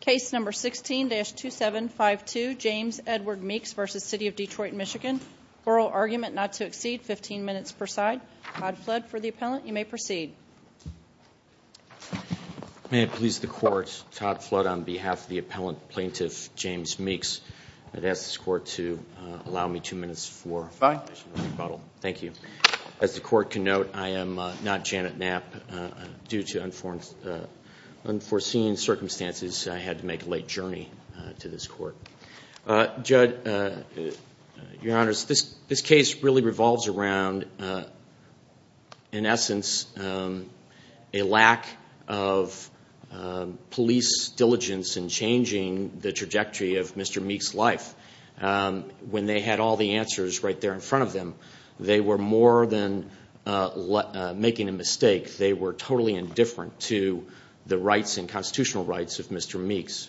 Case number 16-2752, James Edward Meeks v. City of Detroit MI. Oral argument not to exceed 15 minutes per side. Todd Flood for the appellant. You may proceed. May it please the Court, Todd Flood on behalf of the appellant, Plaintiff James Meeks, I'd ask the Court to allow me two minutes for a five-minute rebuttal. Thank you. As the Court can note, I am not Janet Knapp. Due to unforeseen circumstances, I had to make a late journey to this Court. Judge, Your Honors, this case really revolves around, in essence, a lack of police diligence in changing the trajectory of Mr. Meeks' life. When they had all the answers right there in front of them, they were more than making a mistake. They were totally indifferent to the rights and constitutional rights of Mr. Meeks,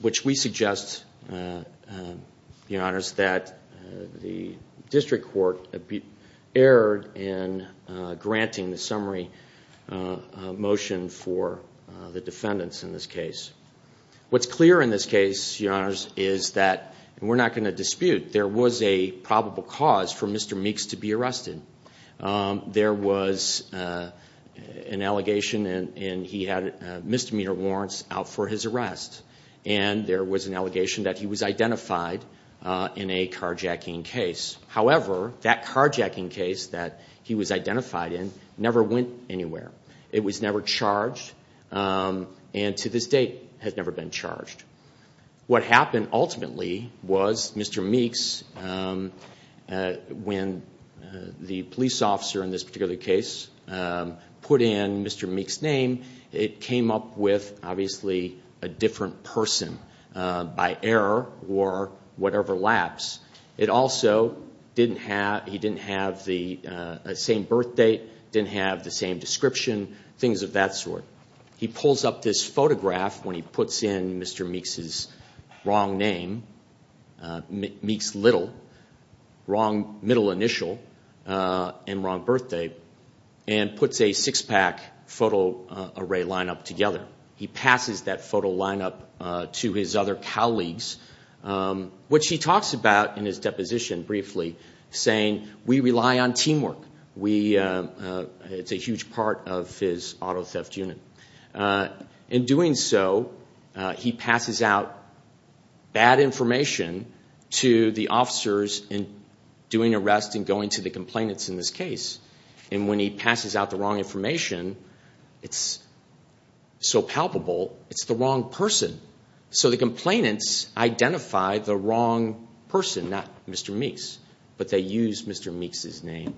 which we suggest, Your Honors, that the District Court err in granting the summary motion for the defendants in this case. What's clear in this case, Your Honors, is that, and we're not going to dispute, there was a probable cause for Mr. Meeks to be arrested. There was an allegation, and he had misdemeanor warrants out for his arrest. And there was an allegation that he was identified in a carjacking case. However, that carjacking case that he was identified in never went anywhere. It was never charged, and to this date has never been charged. What happened, ultimately, was Mr. Meeks, when the police officer in this particular case put in Mr. Meeks' name, it came up with, obviously, a different person by error or whatever lapse. It also didn't have the same birth date, didn't have the same description, things of that sort. He pulls up this photograph when he puts in Mr. Meeks' wrong name, Meeks Little, wrong middle initial, and wrong birth date, and puts a six-pack photo array lineup together. He passes that photo lineup to his other colleagues, which he talks about in his deposition briefly, saying, we rely on teamwork. It's a huge part of his auto theft unit. In doing so, he passes out bad information to the officers in doing arrests and going to the complainants in this case. When he passes out the wrong information, it's so palpable, it's the wrong person. The complainants identify the wrong person, not Mr. Meeks, but they use Mr. Meeks' name.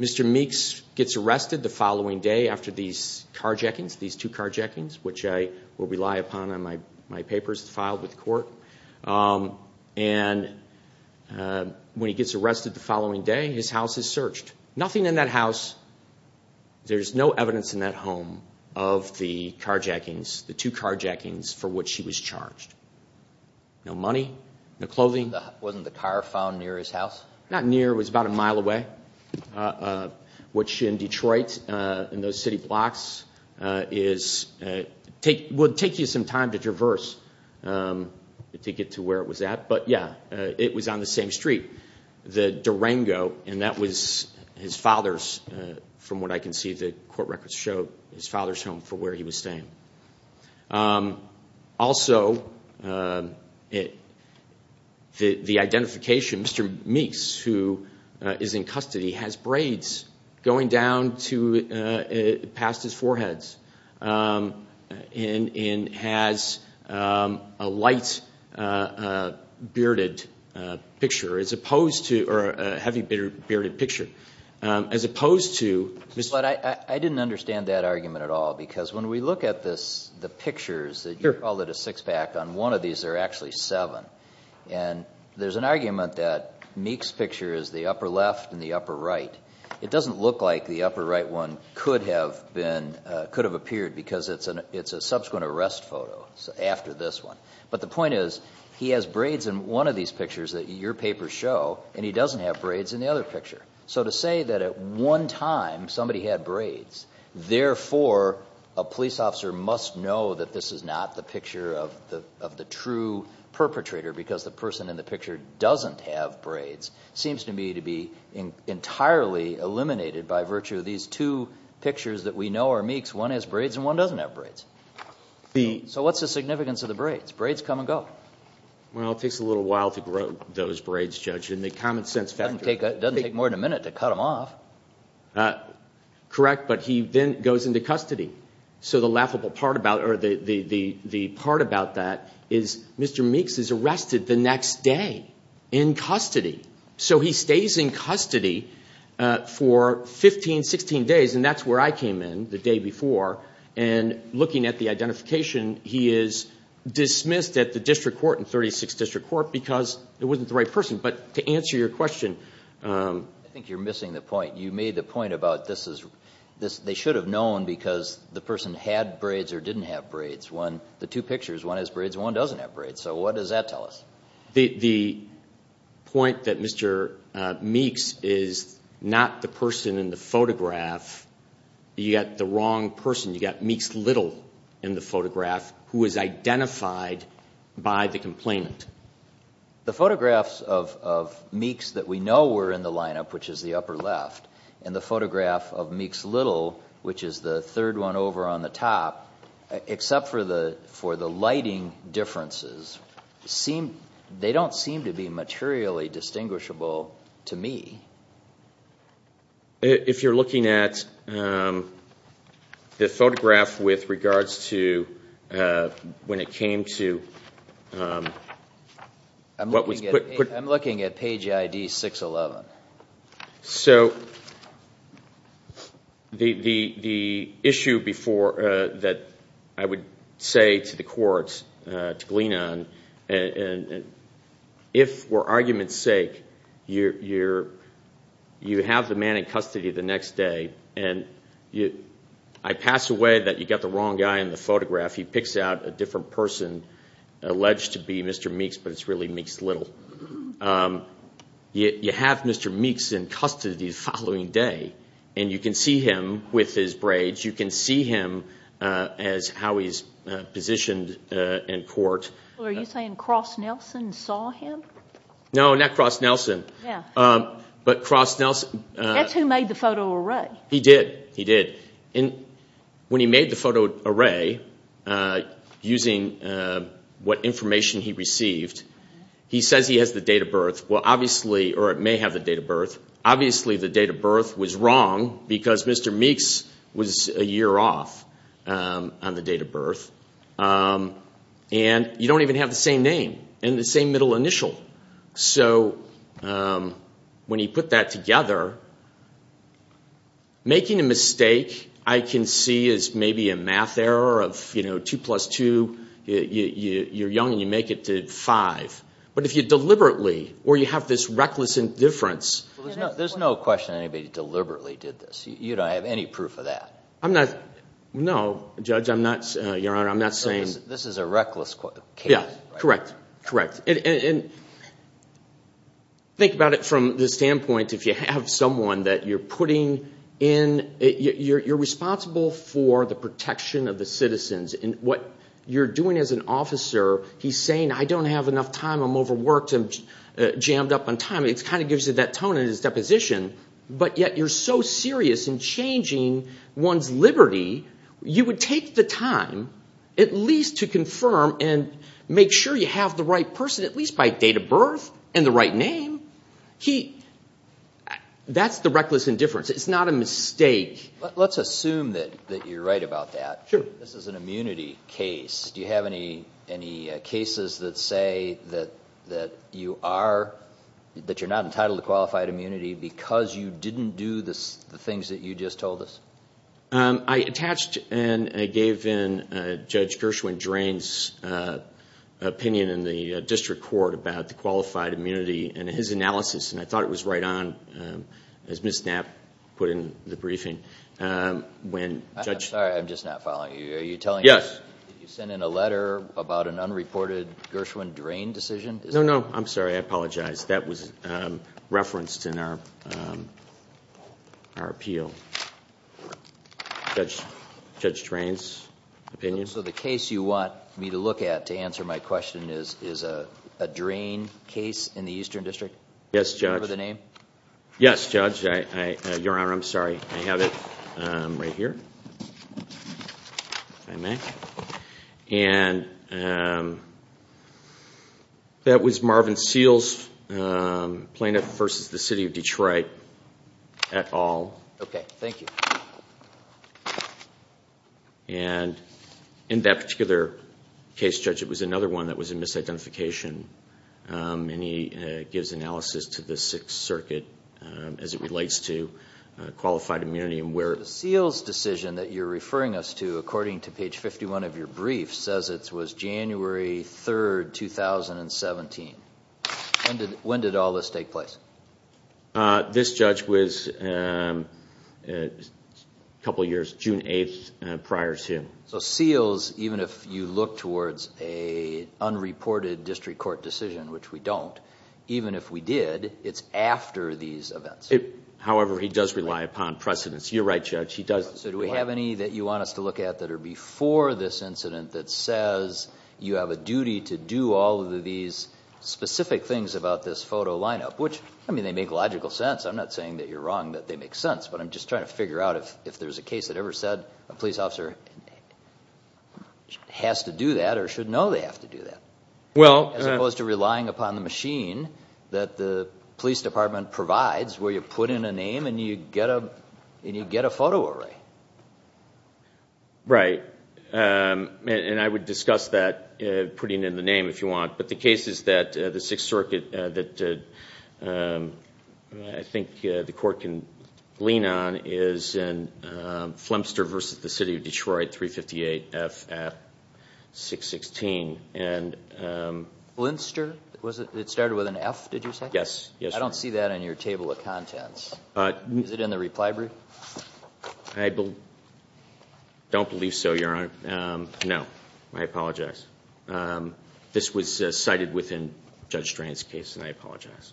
Mr. Meeks gets arrested the following day after these carjackings, these two carjackings, which I will rely upon in my papers filed with the court. When he gets arrested the following day, his house is searched. Nothing in that house, there's no evidence in that home of the carjackings, the two carjackings for which he was charged. No money, no clothing. Wasn't the car found near his house? Not near, it was about a mile away, which in Detroit, in those city blocks, would take you some time to traverse to get to where it was at. But yeah, it was on the same street, the Durango, and that was his father's, from what I can see the court records show, his father's home for where he was staying. Also, the identification, Mr. Meeks, who is in custody, has braids going down past his foreheads and has a light bearded picture, or a heavy bearded picture, as opposed to Mr. Meeks. But I didn't understand that argument at all, because when we look at the pictures, you called it a six-pack, on one of these there are actually seven, and there's an argument that Meeks' picture is the upper left and the upper right. It doesn't look like the upper right one could have appeared, because it's a subsequent arrest photo, after this one. But the point is, he has braids in one of these pictures that your papers show, and he doesn't have braids in the other picture. So to say that at one time somebody had braids, therefore a police officer must know that this is not the picture of the true perpetrator, because the person in the picture doesn't have braids, seems to me to be entirely eliminated by virtue of these two pictures that we know are Meeks. One has braids and one doesn't have braids. So what's the significance of the braids? Braids come and go. It doesn't take more than a minute to cut them off. Correct, but he then goes into custody. So the laughable part about it, or the part about that, is Mr. Meeks is arrested the next day in custody. So he stays in custody for 15, 16 days, and that's where I came in the day before, and looking at the identification, he is dismissed at the district court, because it wasn't the right person. But to answer your question... I think you're missing the point. You made the point about they should have known because the person had braids or didn't have braids. The two pictures, one has braids and one doesn't have braids. So what does that tell us? The point that Mr. Meeks is not the person in the photograph, you've got the wrong person. You've got Meeks Little in the photograph, who is identified by the complainant. The photographs of Meeks that we know were in the lineup, which is the upper left, and the photograph of Meeks Little, which is the third one over on the top, except for the lighting differences, they don't seem to be materially distinguishable to me. If you're looking at the photograph with regards to when it came to... I'm looking at page ID 611. So the issue before that I would say to the courts to glean on, if for argument's sake you have the man in custody the next day and I pass away that you've got the wrong guy in the photograph, he picks out a different person alleged to be Mr. Meeks, but it's really Meeks Little. You have Mr. Meeks in custody the following day, and you can see him with his braids. You can see him as how he's positioned in court. Are you saying Cross Nelson saw him? No, not Cross Nelson. But Cross Nelson... That's who made the photo array. He did. He did. When he made the photo array, using what information he received, he says he has the date of birth, or it may have the date of birth. Obviously the date of birth was wrong because Mr. Meeks was a year off on the date of birth. And you don't even have the same name and the same middle initial. So when he put that together, making a mistake I can see is maybe a math error of 2 plus 2. You're young and you make it to 5. But if you deliberately, or you have this reckless indifference... There's no question anybody deliberately did this. You don't have any proof of that. No, Judge, Your Honor, I'm not saying... This is a reckless case. Correct, correct. Think about it from the standpoint if you have someone that you're putting in... You're responsible for the protection of the citizens. And what you're doing as an officer, he's saying, I don't have enough time, I'm overworked, I'm jammed up on time. It kind of gives you that tone in his deposition. But yet you're so serious in changing one's liberty, you would take the time at least to confirm and make sure you have the right person, at least by date of birth and the right name. That's the reckless indifference. It's not a mistake. Let's assume that you're right about that. Sure. This is an immunity case. Do you have any cases that say that you're not entitled to qualified immunity because you didn't do the things that you just told us? I attached and I gave in Judge Gershwin-Drain's opinion in the district court about the qualified immunity and his analysis. And I thought it was right on, as Ms. Knapp put in the briefing. I'm sorry, I'm just not following you. Are you telling us that you sent in a letter about an unreported Gershwin-Drain decision? No, no. I'm sorry, I apologize. That was referenced in our appeal. Judge Drain's opinion. So the case you want me to look at to answer my question is a Drain case in the Eastern District? Yes, Judge. Do you remember the name? Yes, Judge. Your Honor, I'm sorry. I have it right here, if I may. And that was Marvin Seals plaintiff versus the city of Detroit et al. Okay, thank you. And in that particular case, Judge, it was another one that was in misidentification. And he gives analysis to the Sixth Circuit as it relates to qualified immunity. The Seals decision that you're referring us to, according to page 51 of your brief, says it was January 3, 2017. When did all this take place? This judge was a couple of years, June 8, prior to. So Seals, even if you look towards a unreported district court decision, which we don't, even if we did, it's after these events. However, he does rely upon precedence. You're right, Judge. He does. So do we have any that you want us to look at that are before this incident that says you have a duty to do all of these specific things about this photo lineup? Which, I mean, they make logical sense. I'm not saying that you're wrong, that they make sense. But I'm just trying to figure out if there's a case that ever said a police officer has to do that or should know they have to do that. As opposed to relying upon the machine that the police department provides where you put in a name and you get a photo array. Right. And I would discuss that, putting in the name if you want. But the case is that the Sixth Circuit, that I think the court can lean on, is in Flemster versus the City of Detroit, 358F at 616. Flemster? It started with an F, did you say? Yes. I don't see that on your table of contents. Is it in the reply brief? I don't believe so, Your Honor. No. I apologize. This was cited within Judge Drain's case, and I apologize.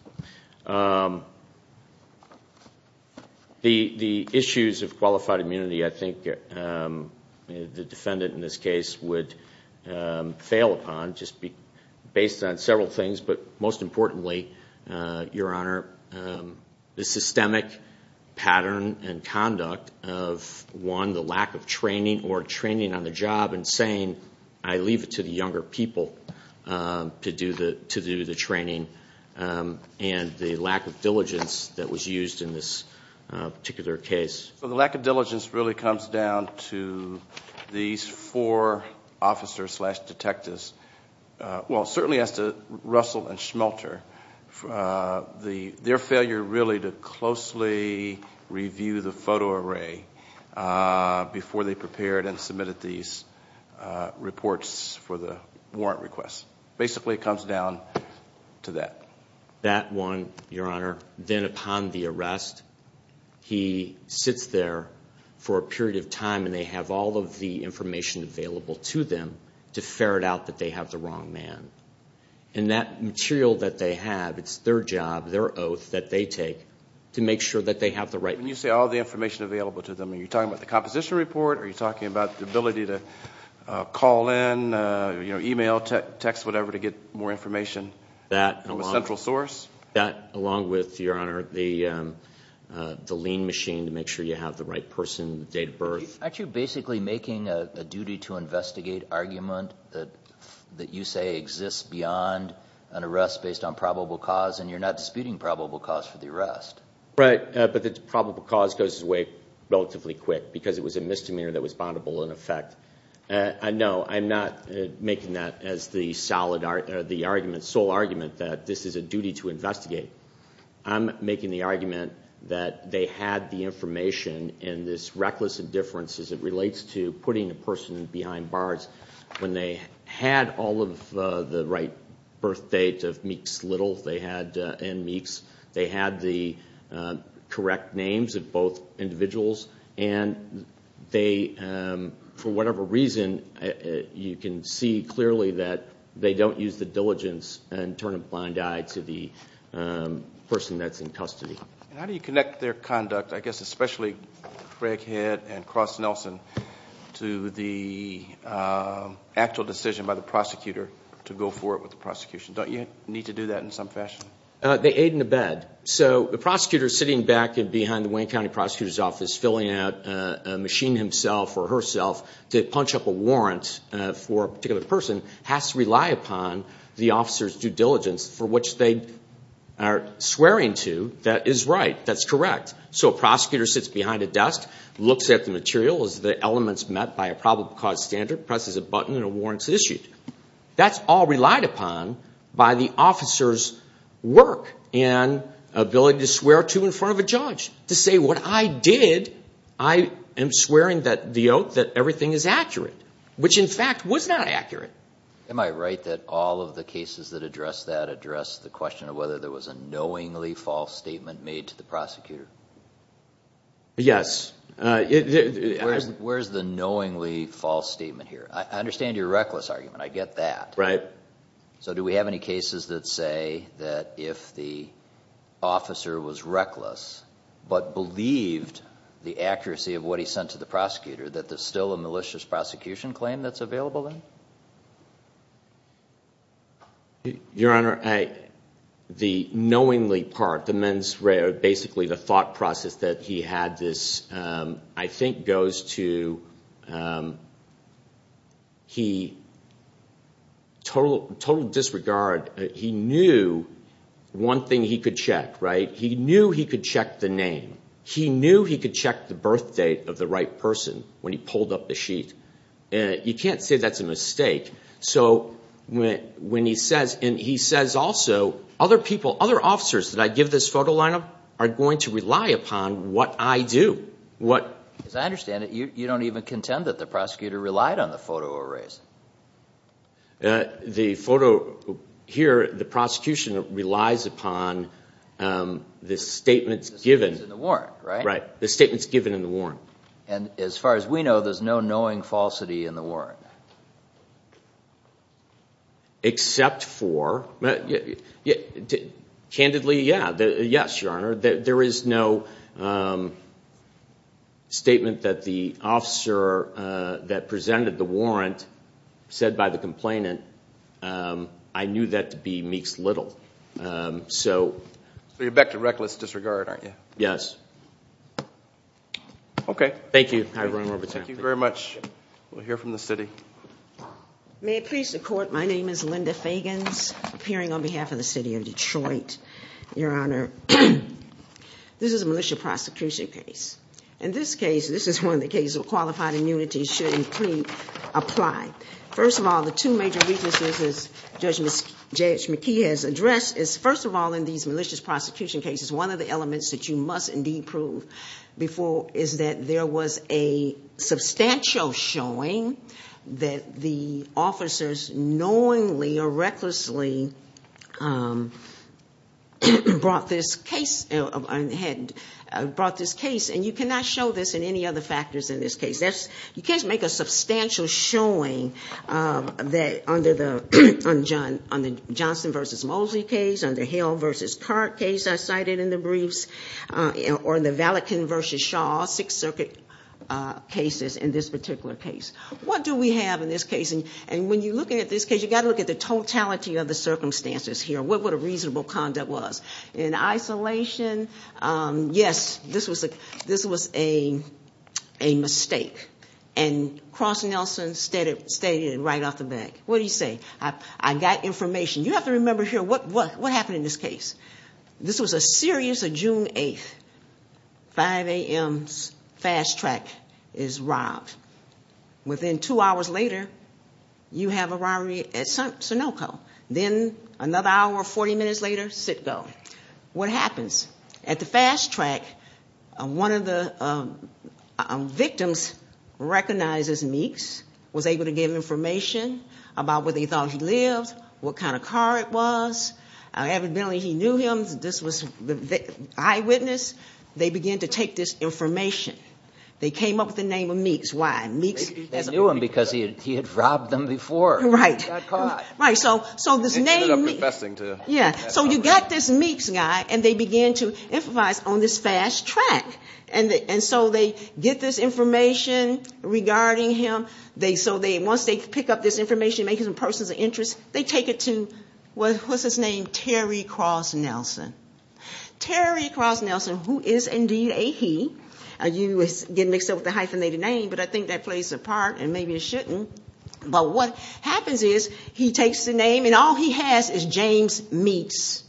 The issues of qualified immunity, I think the defendant in this case would fail upon, just based on several things, but most importantly, Your Honor, the systemic pattern and conduct of, one, the lack of training or training on the job and saying, I leave it to the younger people to do the training, and the lack of diligence that was used in this particular case. The lack of diligence really comes down to these four officers slash detectives. Well, it certainly has to, Russell and Schmelter. Their failure really to closely review the photo array before they prepared and submitted these reports for the warrant request. Basically, it comes down to that. That one, Your Honor. Then upon the arrest, he sits there for a period of time, and they have all of the information available to them to ferret out that they have the wrong man. And that material that they have, it's their job, their oath that they take to make sure that they have the right man. When you say all the information available to them, are you talking about the composition report? Are you talking about the ability to call in, email, text, whatever, to get more information from a central source? That, along with, Your Honor, the lean machine to make sure you have the right person, date of birth. Aren't you basically making a duty to investigate argument that you say exists beyond an arrest based on probable cause, and you're not disputing probable cause for the arrest? Right, but the probable cause goes away relatively quick because it was a misdemeanor that was bondable in effect. No, I'm not making that as the sole argument that this is a duty to investigate. I'm making the argument that they had the information, and this reckless indifference as it relates to putting a person behind bars, when they had all of the right birth dates of Meeks Little and Meeks, they had the correct names of both individuals, and for whatever reason, you can see clearly that they don't use the diligence and turn a blind eye to the person that's in custody. And how do you connect their conduct, I guess especially Craig Head and Cross Nelson, to the actual decision by the prosecutor to go forward with the prosecution? Don't you need to do that in some fashion? They aid and abet. So the prosecutor sitting back behind the Wayne County Prosecutor's Office, filling out a machine himself or herself to punch up a warrant for a particular person, has to rely upon the officer's due diligence for which they are swearing to that is right, that's correct. So a prosecutor sits behind a desk, looks at the material, is the elements met by a probable cause standard, presses a button, and a warrant is issued. That's all relied upon by the officer's work and ability to swear to in front of a judge, to say what I did, I am swearing the oath that everything is accurate, which in fact was not accurate. Am I right that all of the cases that address that address the question of whether there was a knowingly false statement made to the prosecutor? Yes. Where's the knowingly false statement here? I understand your reckless argument. I get that. Right. So do we have any cases that say that if the officer was reckless but believed the accuracy of what he sent to the prosecutor, that there's still a malicious prosecution claim that's available then? Your Honor, the knowingly part, the men's, basically the thought process that he had this, I think goes to he, total disregard, he knew one thing he could check, right? He knew he could check the name. He knew he could check the birth date of the right person when he pulled up the sheet. You can't say that's a mistake. So when he says, and he says also, other people, other officers that I give this photo line of are going to rely upon what I do. As I understand it, you don't even contend that the prosecutor relied on the photo arrays. The photo here, the prosecution relies upon the statements given. The statement's in the warrant, right? Right. The statement's given in the warrant. And as far as we know, there's no knowing falsity in the warrant. Except for, candidly, yes, Your Honor. There is no statement that the officer that presented the warrant said by the complainant, I knew that to be Meeks Little. So you're back to reckless disregard, aren't you? Yes. Okay. Thank you. Thank you very much. We'll hear from the city. May it please the Court, my name is Linda Fagans, appearing on behalf of the city of Detroit. Your Honor, this is a malicious prosecution case. In this case, this is one of the cases where qualified immunity should apply. First of all, the two major weaknesses, as Judge McKee has addressed, is first of all, in these malicious prosecution cases, one of the elements that you must indeed prove is that there was a substantial showing that the officers knowingly or recklessly had brought this case. And you cannot show this in any other factors in this case. You can't make a substantial showing on the Johnson v. Moseley case, on the Hill v. Carr case I cited in the briefs, or in the Valikin v. Shaw Sixth Circuit cases in this particular case. What do we have in this case? And when you look at this case, you've got to look at the totality of the circumstances here, what a reasonable conduct was. In isolation, yes, this was a mistake. And Cross Nelson stated it right off the bat. What do you say? You have to remember here what happened in this case. This was a series of June 8th, 5 a.m. Fast Track is robbed. Within two hours later, you have a robbery at Sunoco. Then another hour, 40 minutes later, Sitco. What happens? At the Fast Track, one of the victims recognizes Meeks, was able to give information about where they thought he lived, what kind of car it was. Evidently, he knew him. This was the eyewitness. They began to take this information. They came up with the name of Meeks. Why? They knew him because he had robbed them before. Right. Got caught. Right. So this name Meeks. Yeah. So you got this Meeks guy, and they began to improvise on this Fast Track. And so they get this information regarding him. Once they pick up this information, make it in person's interest, they take it to, what's his name, Terry Cross Nelson. Terry Cross Nelson, who is indeed a he. You get mixed up with the hyphenated name, but I think that plays a part, and maybe it shouldn't. But what happens is he takes the name, and all he has is James Meeks.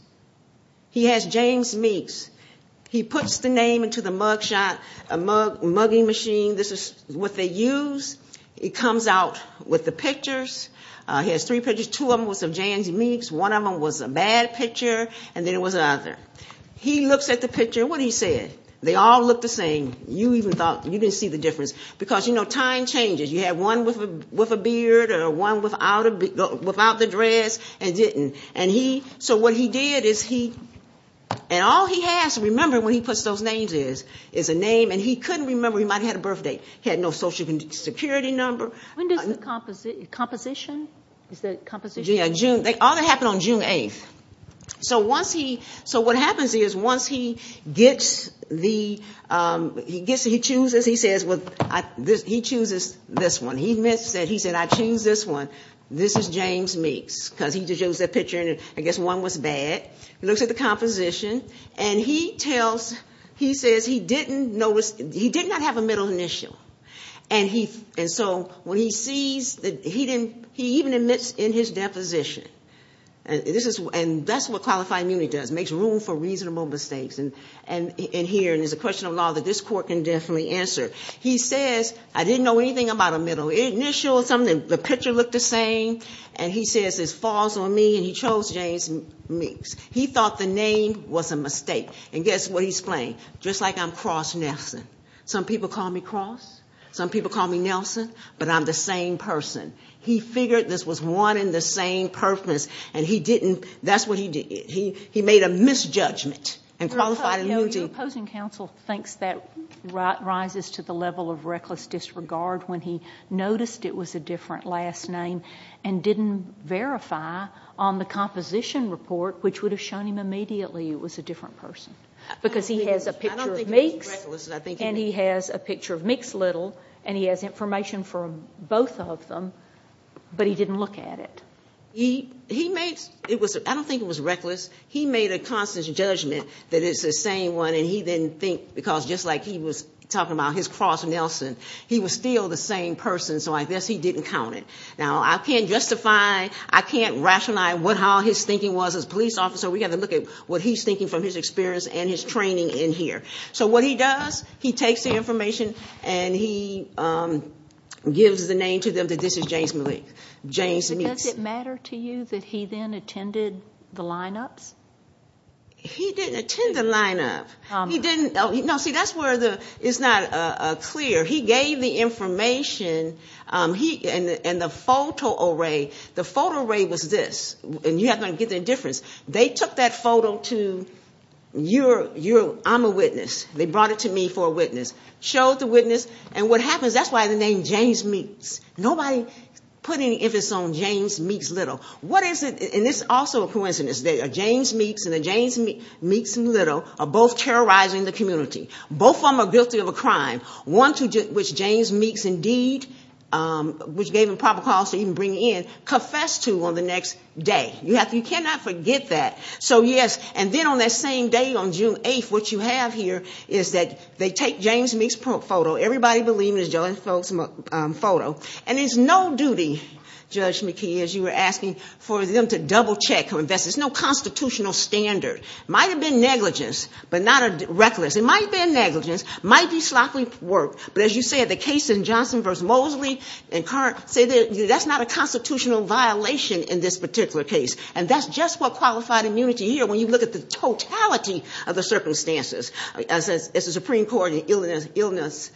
He has James Meeks. He puts the name into the mug shot, a mugging machine. This is what they use. It comes out with the pictures. He has three pictures. Two of them was of James Meeks. One of them was a bad picture, and then there was another. He looks at the picture. What did he say? They all look the same. You didn't see the difference. Because, you know, time changes. You have one with a beard or one without the dress and didn't. So what he did is he – and all he has to remember when he puts those names is a name, and he couldn't remember. He might have had a birth date. He had no Social Security number. When does the composition? Is that composition? Yeah, June. All that happened on June 8th. So what happens is once he gets the – he chooses, he says, he chooses this one. He said, I choose this one. This is James Meeks, because he just chose that picture, and I guess one was bad. He looks at the composition, and he tells – he says he didn't notice – he did not have a middle initial. And so when he sees that he didn't – he even admits in his deposition. And this is – and that's what qualifying immunity does, makes room for reasonable mistakes in here. And it's a question of law that this court can definitely answer. He says, I didn't know anything about a middle initial or something. The picture looked the same. And he says, it's false on me, and he chose James Meeks. He thought the name was a mistake. And guess what he's playing? Just like I'm Cross Nelson. Some people call me Cross. Some people call me Nelson. But I'm the same person. He figured this was one and the same purpose, and he didn't – that's what he did. He made a misjudgment and qualified immunity. Your opposing counsel thinks that rises to the level of reckless disregard when he noticed it was a different last name and didn't verify on the composition report, which would have shown him immediately it was a different person. Because he has a picture of Meeks, and he has a picture of Meeks Little, and he has information from both of them, but he didn't look at it. He made – I don't think it was reckless. He made a constant judgment that it's the same one, and he didn't think because just like he was talking about his Cross Nelson, he was still the same person, so I guess he didn't count it. Now, I can't justify, I can't rationalize what all his thinking was. As a police officer, we've got to look at what he's thinking from his experience and his training in here. So what he does, he takes the information, and he gives the name to them that this is James Meeks. But does it matter to you that he then attended the lineups? He didn't attend the lineup. He didn't – no, see, that's where it's not clear. He gave the information, and the photo array, the photo array was this. And you have to get the difference. They took that photo to your – I'm a witness. They brought it to me for a witness. Showed the witness, and what happens, that's why the name James Meeks. Nobody put any emphasis on James Meeks Little. What is it – and this is also a coincidence. James Meeks and James Meeks Little are both terrorizing the community. Both of them are guilty of a crime, one to which James Meeks indeed, which gave him probable cause to even bring in, confessed to on the next day. You cannot forget that. So, yes, and then on that same day, on June 8th, what you have here is that they take James Meeks' photo. Everybody believe it is James Meeks' photo. And it's no duty, Judge McKee, as you were asking, for them to double-check. There's no constitutional standard. It might have been negligence, but not a reckless. It might have been negligence. It might be sloppy work. But as you said, the case in Johnson v. Mosley, that's not a constitutional violation in this particular case. And that's just what qualified immunity here, when you look at the totality of the circumstances, as the Supreme Court in Illinois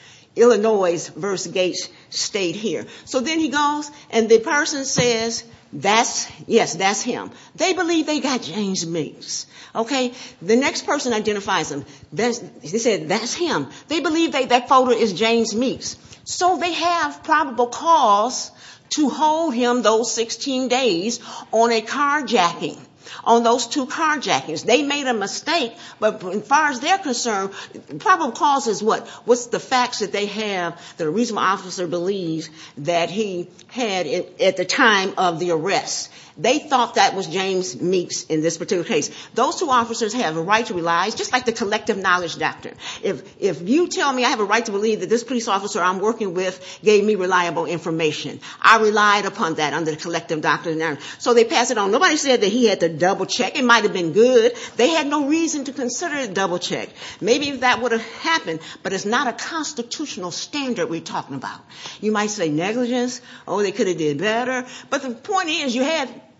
v. Gates state here. So then he goes, and the person says, yes, that's him. They believe they got James Meeks. The next person identifies him. They said, that's him. They believe that photo is James Meeks. So they have probable cause to hold him those 16 days on a carjacking, on those two carjackings. They made a mistake. But as far as they're concerned, probable cause is what? What's the facts that they have that a reasonable officer believes that he had at the time of the arrest? They thought that was James Meeks in this particular case. Those two officers have a right to realize, just like the collective knowledge doctrine, if you tell me I have a right to believe that this police officer I'm working with gave me reliable information, I relied upon that under the collective doctrine. So they pass it on. Nobody said that he had to double check. It might have been good. They had no reason to consider a double check. Maybe that would have happened. But it's not a constitutional standard we're talking about. You might say negligence. Oh, they could have did better. But the point is, you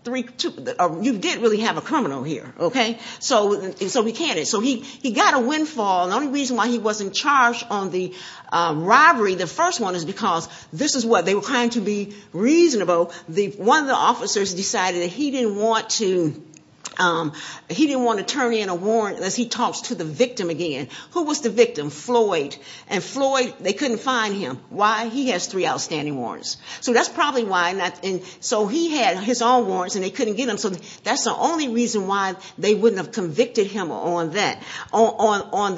did really have a criminal here. Okay? So he can't. The only reason why he wasn't charged on the robbery, the first one, is because this is what? They were trying to be reasonable. One of the officers decided that he didn't want to turn in a warrant unless he talks to the victim again. Who was the victim? Floyd. And Floyd, they couldn't find him. Why? He has three outstanding warrants. So that's probably why. So he had his own warrants, and they couldn't get him. So that's the only reason why they wouldn't have convicted him on that, on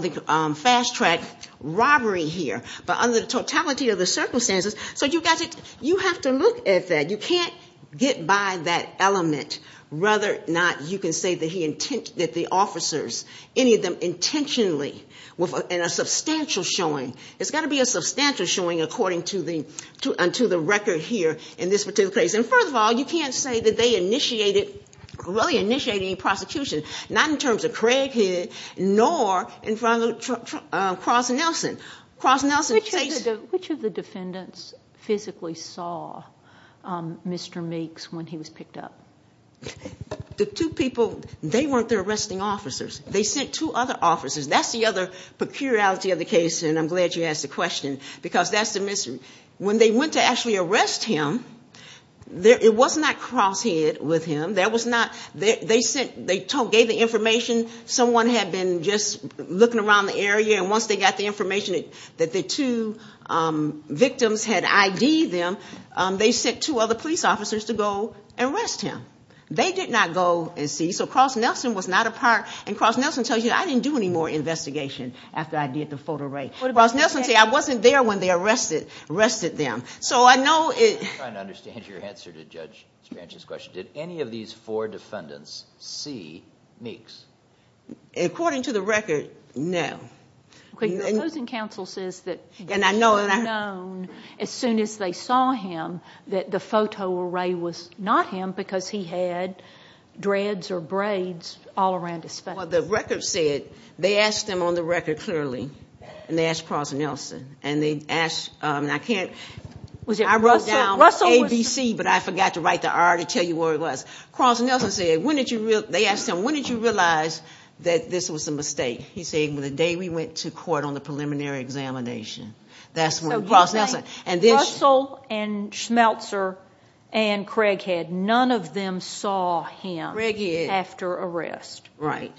the fast track robbery here. But under the totality of the circumstances, so you have to look at that. You can't get by that element. Rather, you can say that the officers, any of them intentionally, in a substantial showing. It's got to be a substantial showing according to the record here in this particular case. And, first of all, you can't say that they initiated, really initiated any prosecution, not in terms of Craighead, nor in front of Cross Nelson. Cross Nelson. Which of the defendants physically saw Mr. Meeks when he was picked up? The two people, they weren't the arresting officers. They sent two other officers. That's the other peculiarity of the case, and I'm glad you asked the question, because that's the mystery. When they went to actually arrest him, it was not Crosshead with him. They gave the information. Someone had been just looking around the area, and once they got the information that the two victims had ID'd them, they sent two other police officers to go arrest him. They did not go and see. So Cross Nelson was not a part. And Cross Nelson tells you, I didn't do any more investigation after I did the photo rate. Cross Nelson said, I wasn't there when they arrested them. So I know it – I'm trying to understand your answer to Judge Spancher's question. Did any of these four defendants see Meeks? According to the record, no. The opposing counsel says that he should have known as soon as they saw him that the photo array was not him because he had dreads or braids all around his face. Well, the record said they asked him on the record clearly, and they asked Cross Nelson. And they asked – and I can't – I wrote down ABC, but I forgot to write the R to tell you where it was. Cross Nelson said, when did you – they asked him, when did you realize that this was a mistake? He said, the day we went to court on the preliminary examination. That's when Cross Nelson – So you're saying Russell and Schmelzer and Craighead, none of them saw him after arrest. Right.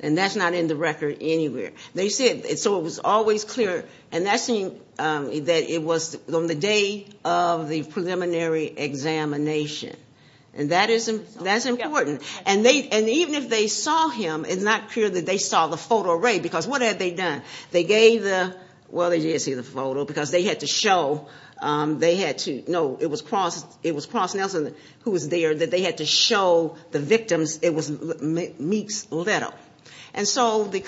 And that's not in the record anywhere. They said – so it was always clear. And that seemed that it was on the day of the preliminary examination. And that's important. And even if they saw him, it's not clear that they saw the photo array because what had they done? They gave the – well, they did see the photo because they had to show – they had to – no, it was Cross Nelson who was there that they had to show the victims it was Meeks Little. And so the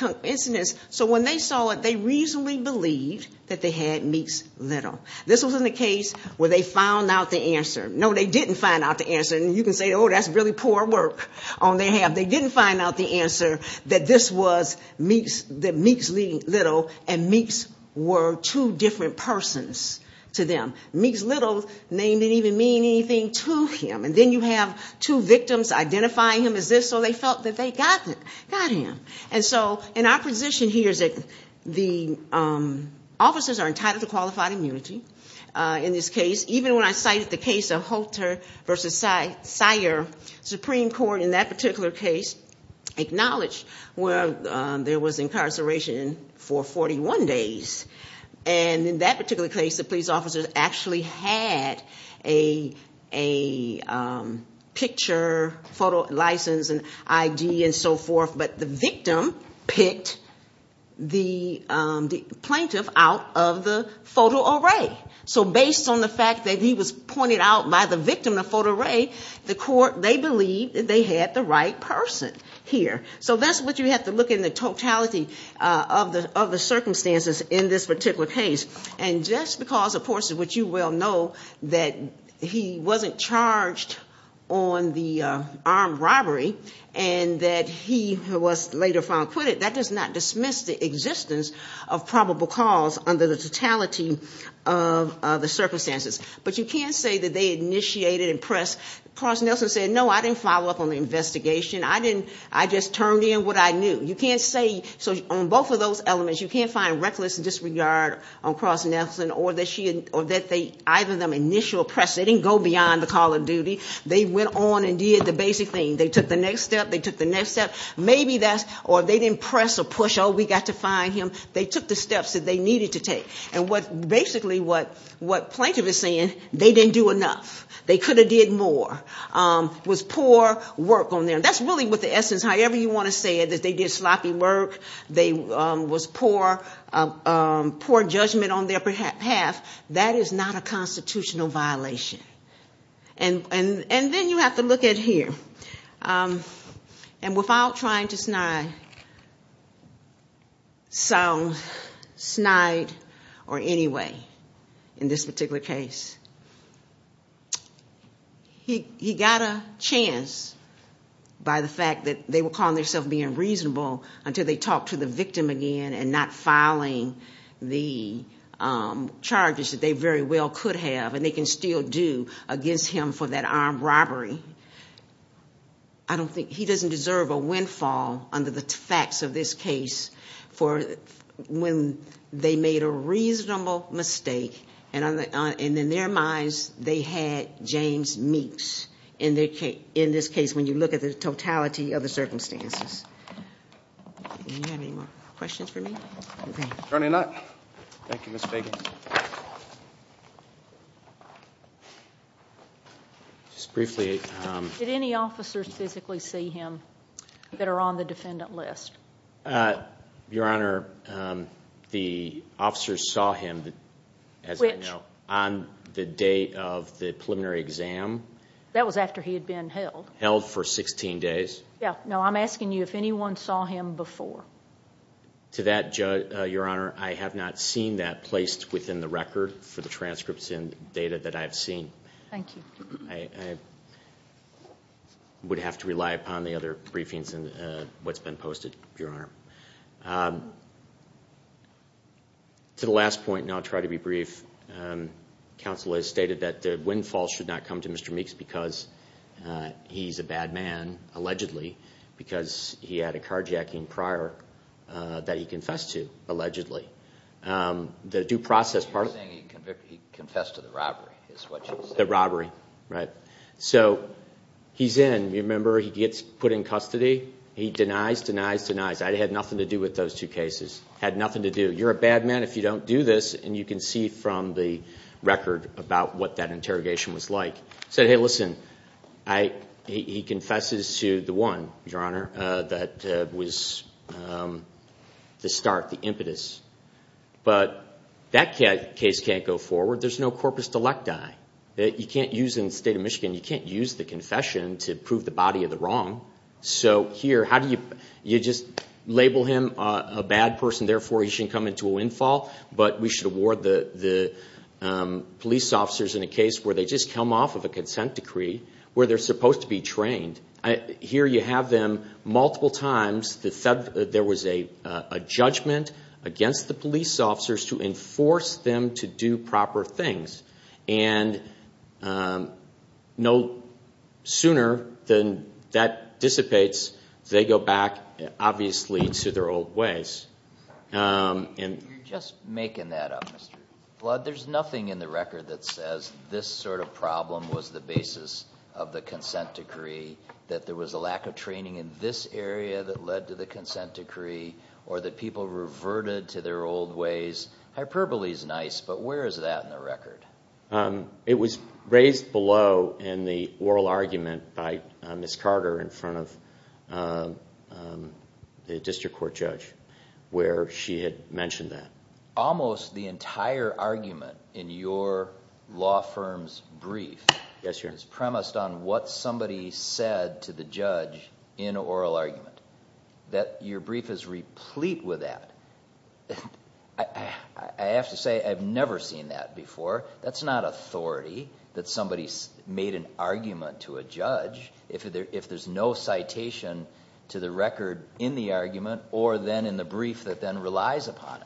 – so when they saw it, they reasonably believed that they had Meeks Little. This was in the case where they found out the answer. No, they didn't find out the answer. And you can say, oh, that's really poor work on their half. But they didn't find out the answer that this was Meeks – that Meeks Little and Meeks were two different persons to them. Meeks Little didn't even mean anything to him. And then you have two victims identifying him as this, so they felt that they got him. And so in our position here is that the officers are entitled to qualified immunity in this case. Even when I cited the case of Holter v. Seyer, Supreme Court in that particular case acknowledged where there was incarceration for 41 days. And in that particular case, the police officers actually had a picture, photo license and ID and so forth. But the victim picked the plaintiff out of the photo array. So based on the fact that he was pointed out by the victim of photo array, the court – they believed that they had the right person here. So that's what you have to look in the totality of the circumstances in this particular case. And just because, of course, which you well know, that he wasn't charged on the armed robbery and that he was later found quitted, that does not dismiss the existence of probable cause under the totality of the circumstances. But you can't say that they initiated and pressed. Cross Nelson said, no, I didn't follow up on the investigation. I didn't – I just turned in what I knew. You can't say – so on both of those elements, you can't find reckless disregard on Cross Nelson or that she – or that they – either of them initial pressed. They didn't go beyond the call of duty. They went on and did the basic thing. They took the next step. They took the next step. Maybe that's – or they didn't press or push, oh, we got to find him. They took the steps that they needed to take. And what – basically what Plaintiff is saying, they didn't do enough. They could have did more. It was poor work on their – that's really what the essence, however you want to say it, that they did sloppy work, they was poor judgment on their path. That is not a constitutional violation. And then you have to look at here. And without trying to snide, sound snide or any way in this particular case, he got a chance by the fact that they were calling themselves being reasonable until they talked to the victim again and not filing the charges that they very well could have and they can still do against him for that armed robbery. I don't think – he doesn't deserve a windfall under the facts of this case for when they made a reasonable mistake. And in their minds they had James Meeks in this case when you look at the totality of the circumstances. Do you have any more questions for me? Attorney Knight. Thank you, Ms. Fagan. Did any officers physically see him that are on the defendant list? Your Honor, the officers saw him, as I know, on the day of the preliminary exam. That was after he had been held. Held for 16 days. I'm asking you if anyone saw him before. To that, Your Honor, I have not seen that placed within the record for the transcripts and data that I have seen. Thank you. I would have to rely upon the other briefings and what's been posted, Your Honor. To the last point, and I'll try to be brief, counsel has stated that the windfall should not come to Mr. Meeks because he's a bad man, allegedly, because he had a carjacking prior that he confessed to, allegedly. The due process part of it. You're saying he confessed to the robbery, is what you're saying. The robbery, right. So he's in. You remember he gets put in custody. He denies, denies, denies. It had nothing to do with those two cases. Had nothing to do. You're a bad man if you don't do this, and you can see from the record about what that interrogation was like. He said, hey, listen, he confesses to the one, Your Honor, that was the start, the impetus. But that case can't go forward. There's no corpus delecti. You can't use in the state of Michigan, you can't use the confession to prove the body of the wrong. So here, you just label him a bad person, therefore he shouldn't come into a windfall, but we should award the police officers in a case where they just come off of a consent decree, where they're supposed to be trained. Here you have them multiple times. There was a judgment against the police officers to enforce them to do proper things. And no sooner than that dissipates, they go back, obviously, to their old ways. You're just making that up, Mr. Blood. There's nothing in the record that says this sort of problem was the basis of the consent decree, that there was a lack of training in this area that led to the consent decree, or that people reverted to their old ways. Hyperbole is nice, but where is that in the record? It was raised below in the oral argument by Ms. Carter in front of the district court judge, where she had mentioned that. Almost the entire argument in your law firm's brief is premised on what somebody said to the judge in an oral argument. Your brief is replete with that. I have to say I've never seen that before. That's not authority that somebody made an argument to a judge if there's no citation to the record in the argument or then in the brief that then relies upon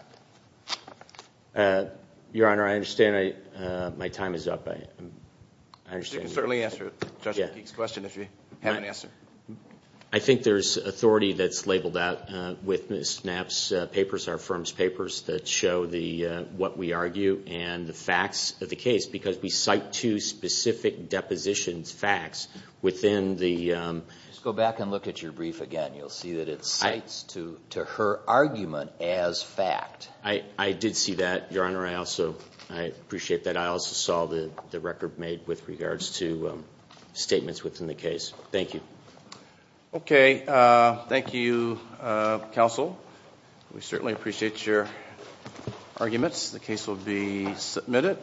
it. Your Honor, I understand my time is up. You can certainly answer Judge McGeek's question if you have an answer. I think there's authority that's labeled out with Ms. Knapp's papers, our firm's papers, that show what we argue and the facts of the case because we cite two specific depositions facts within the Just go back and look at your brief again. You'll see that it cites to her argument as fact. I did see that, Your Honor. I appreciate that. I also saw the record made with regards to statements within the case. Thank you. Okay. Thank you, counsel. We certainly appreciate your arguments. The case will be submitted.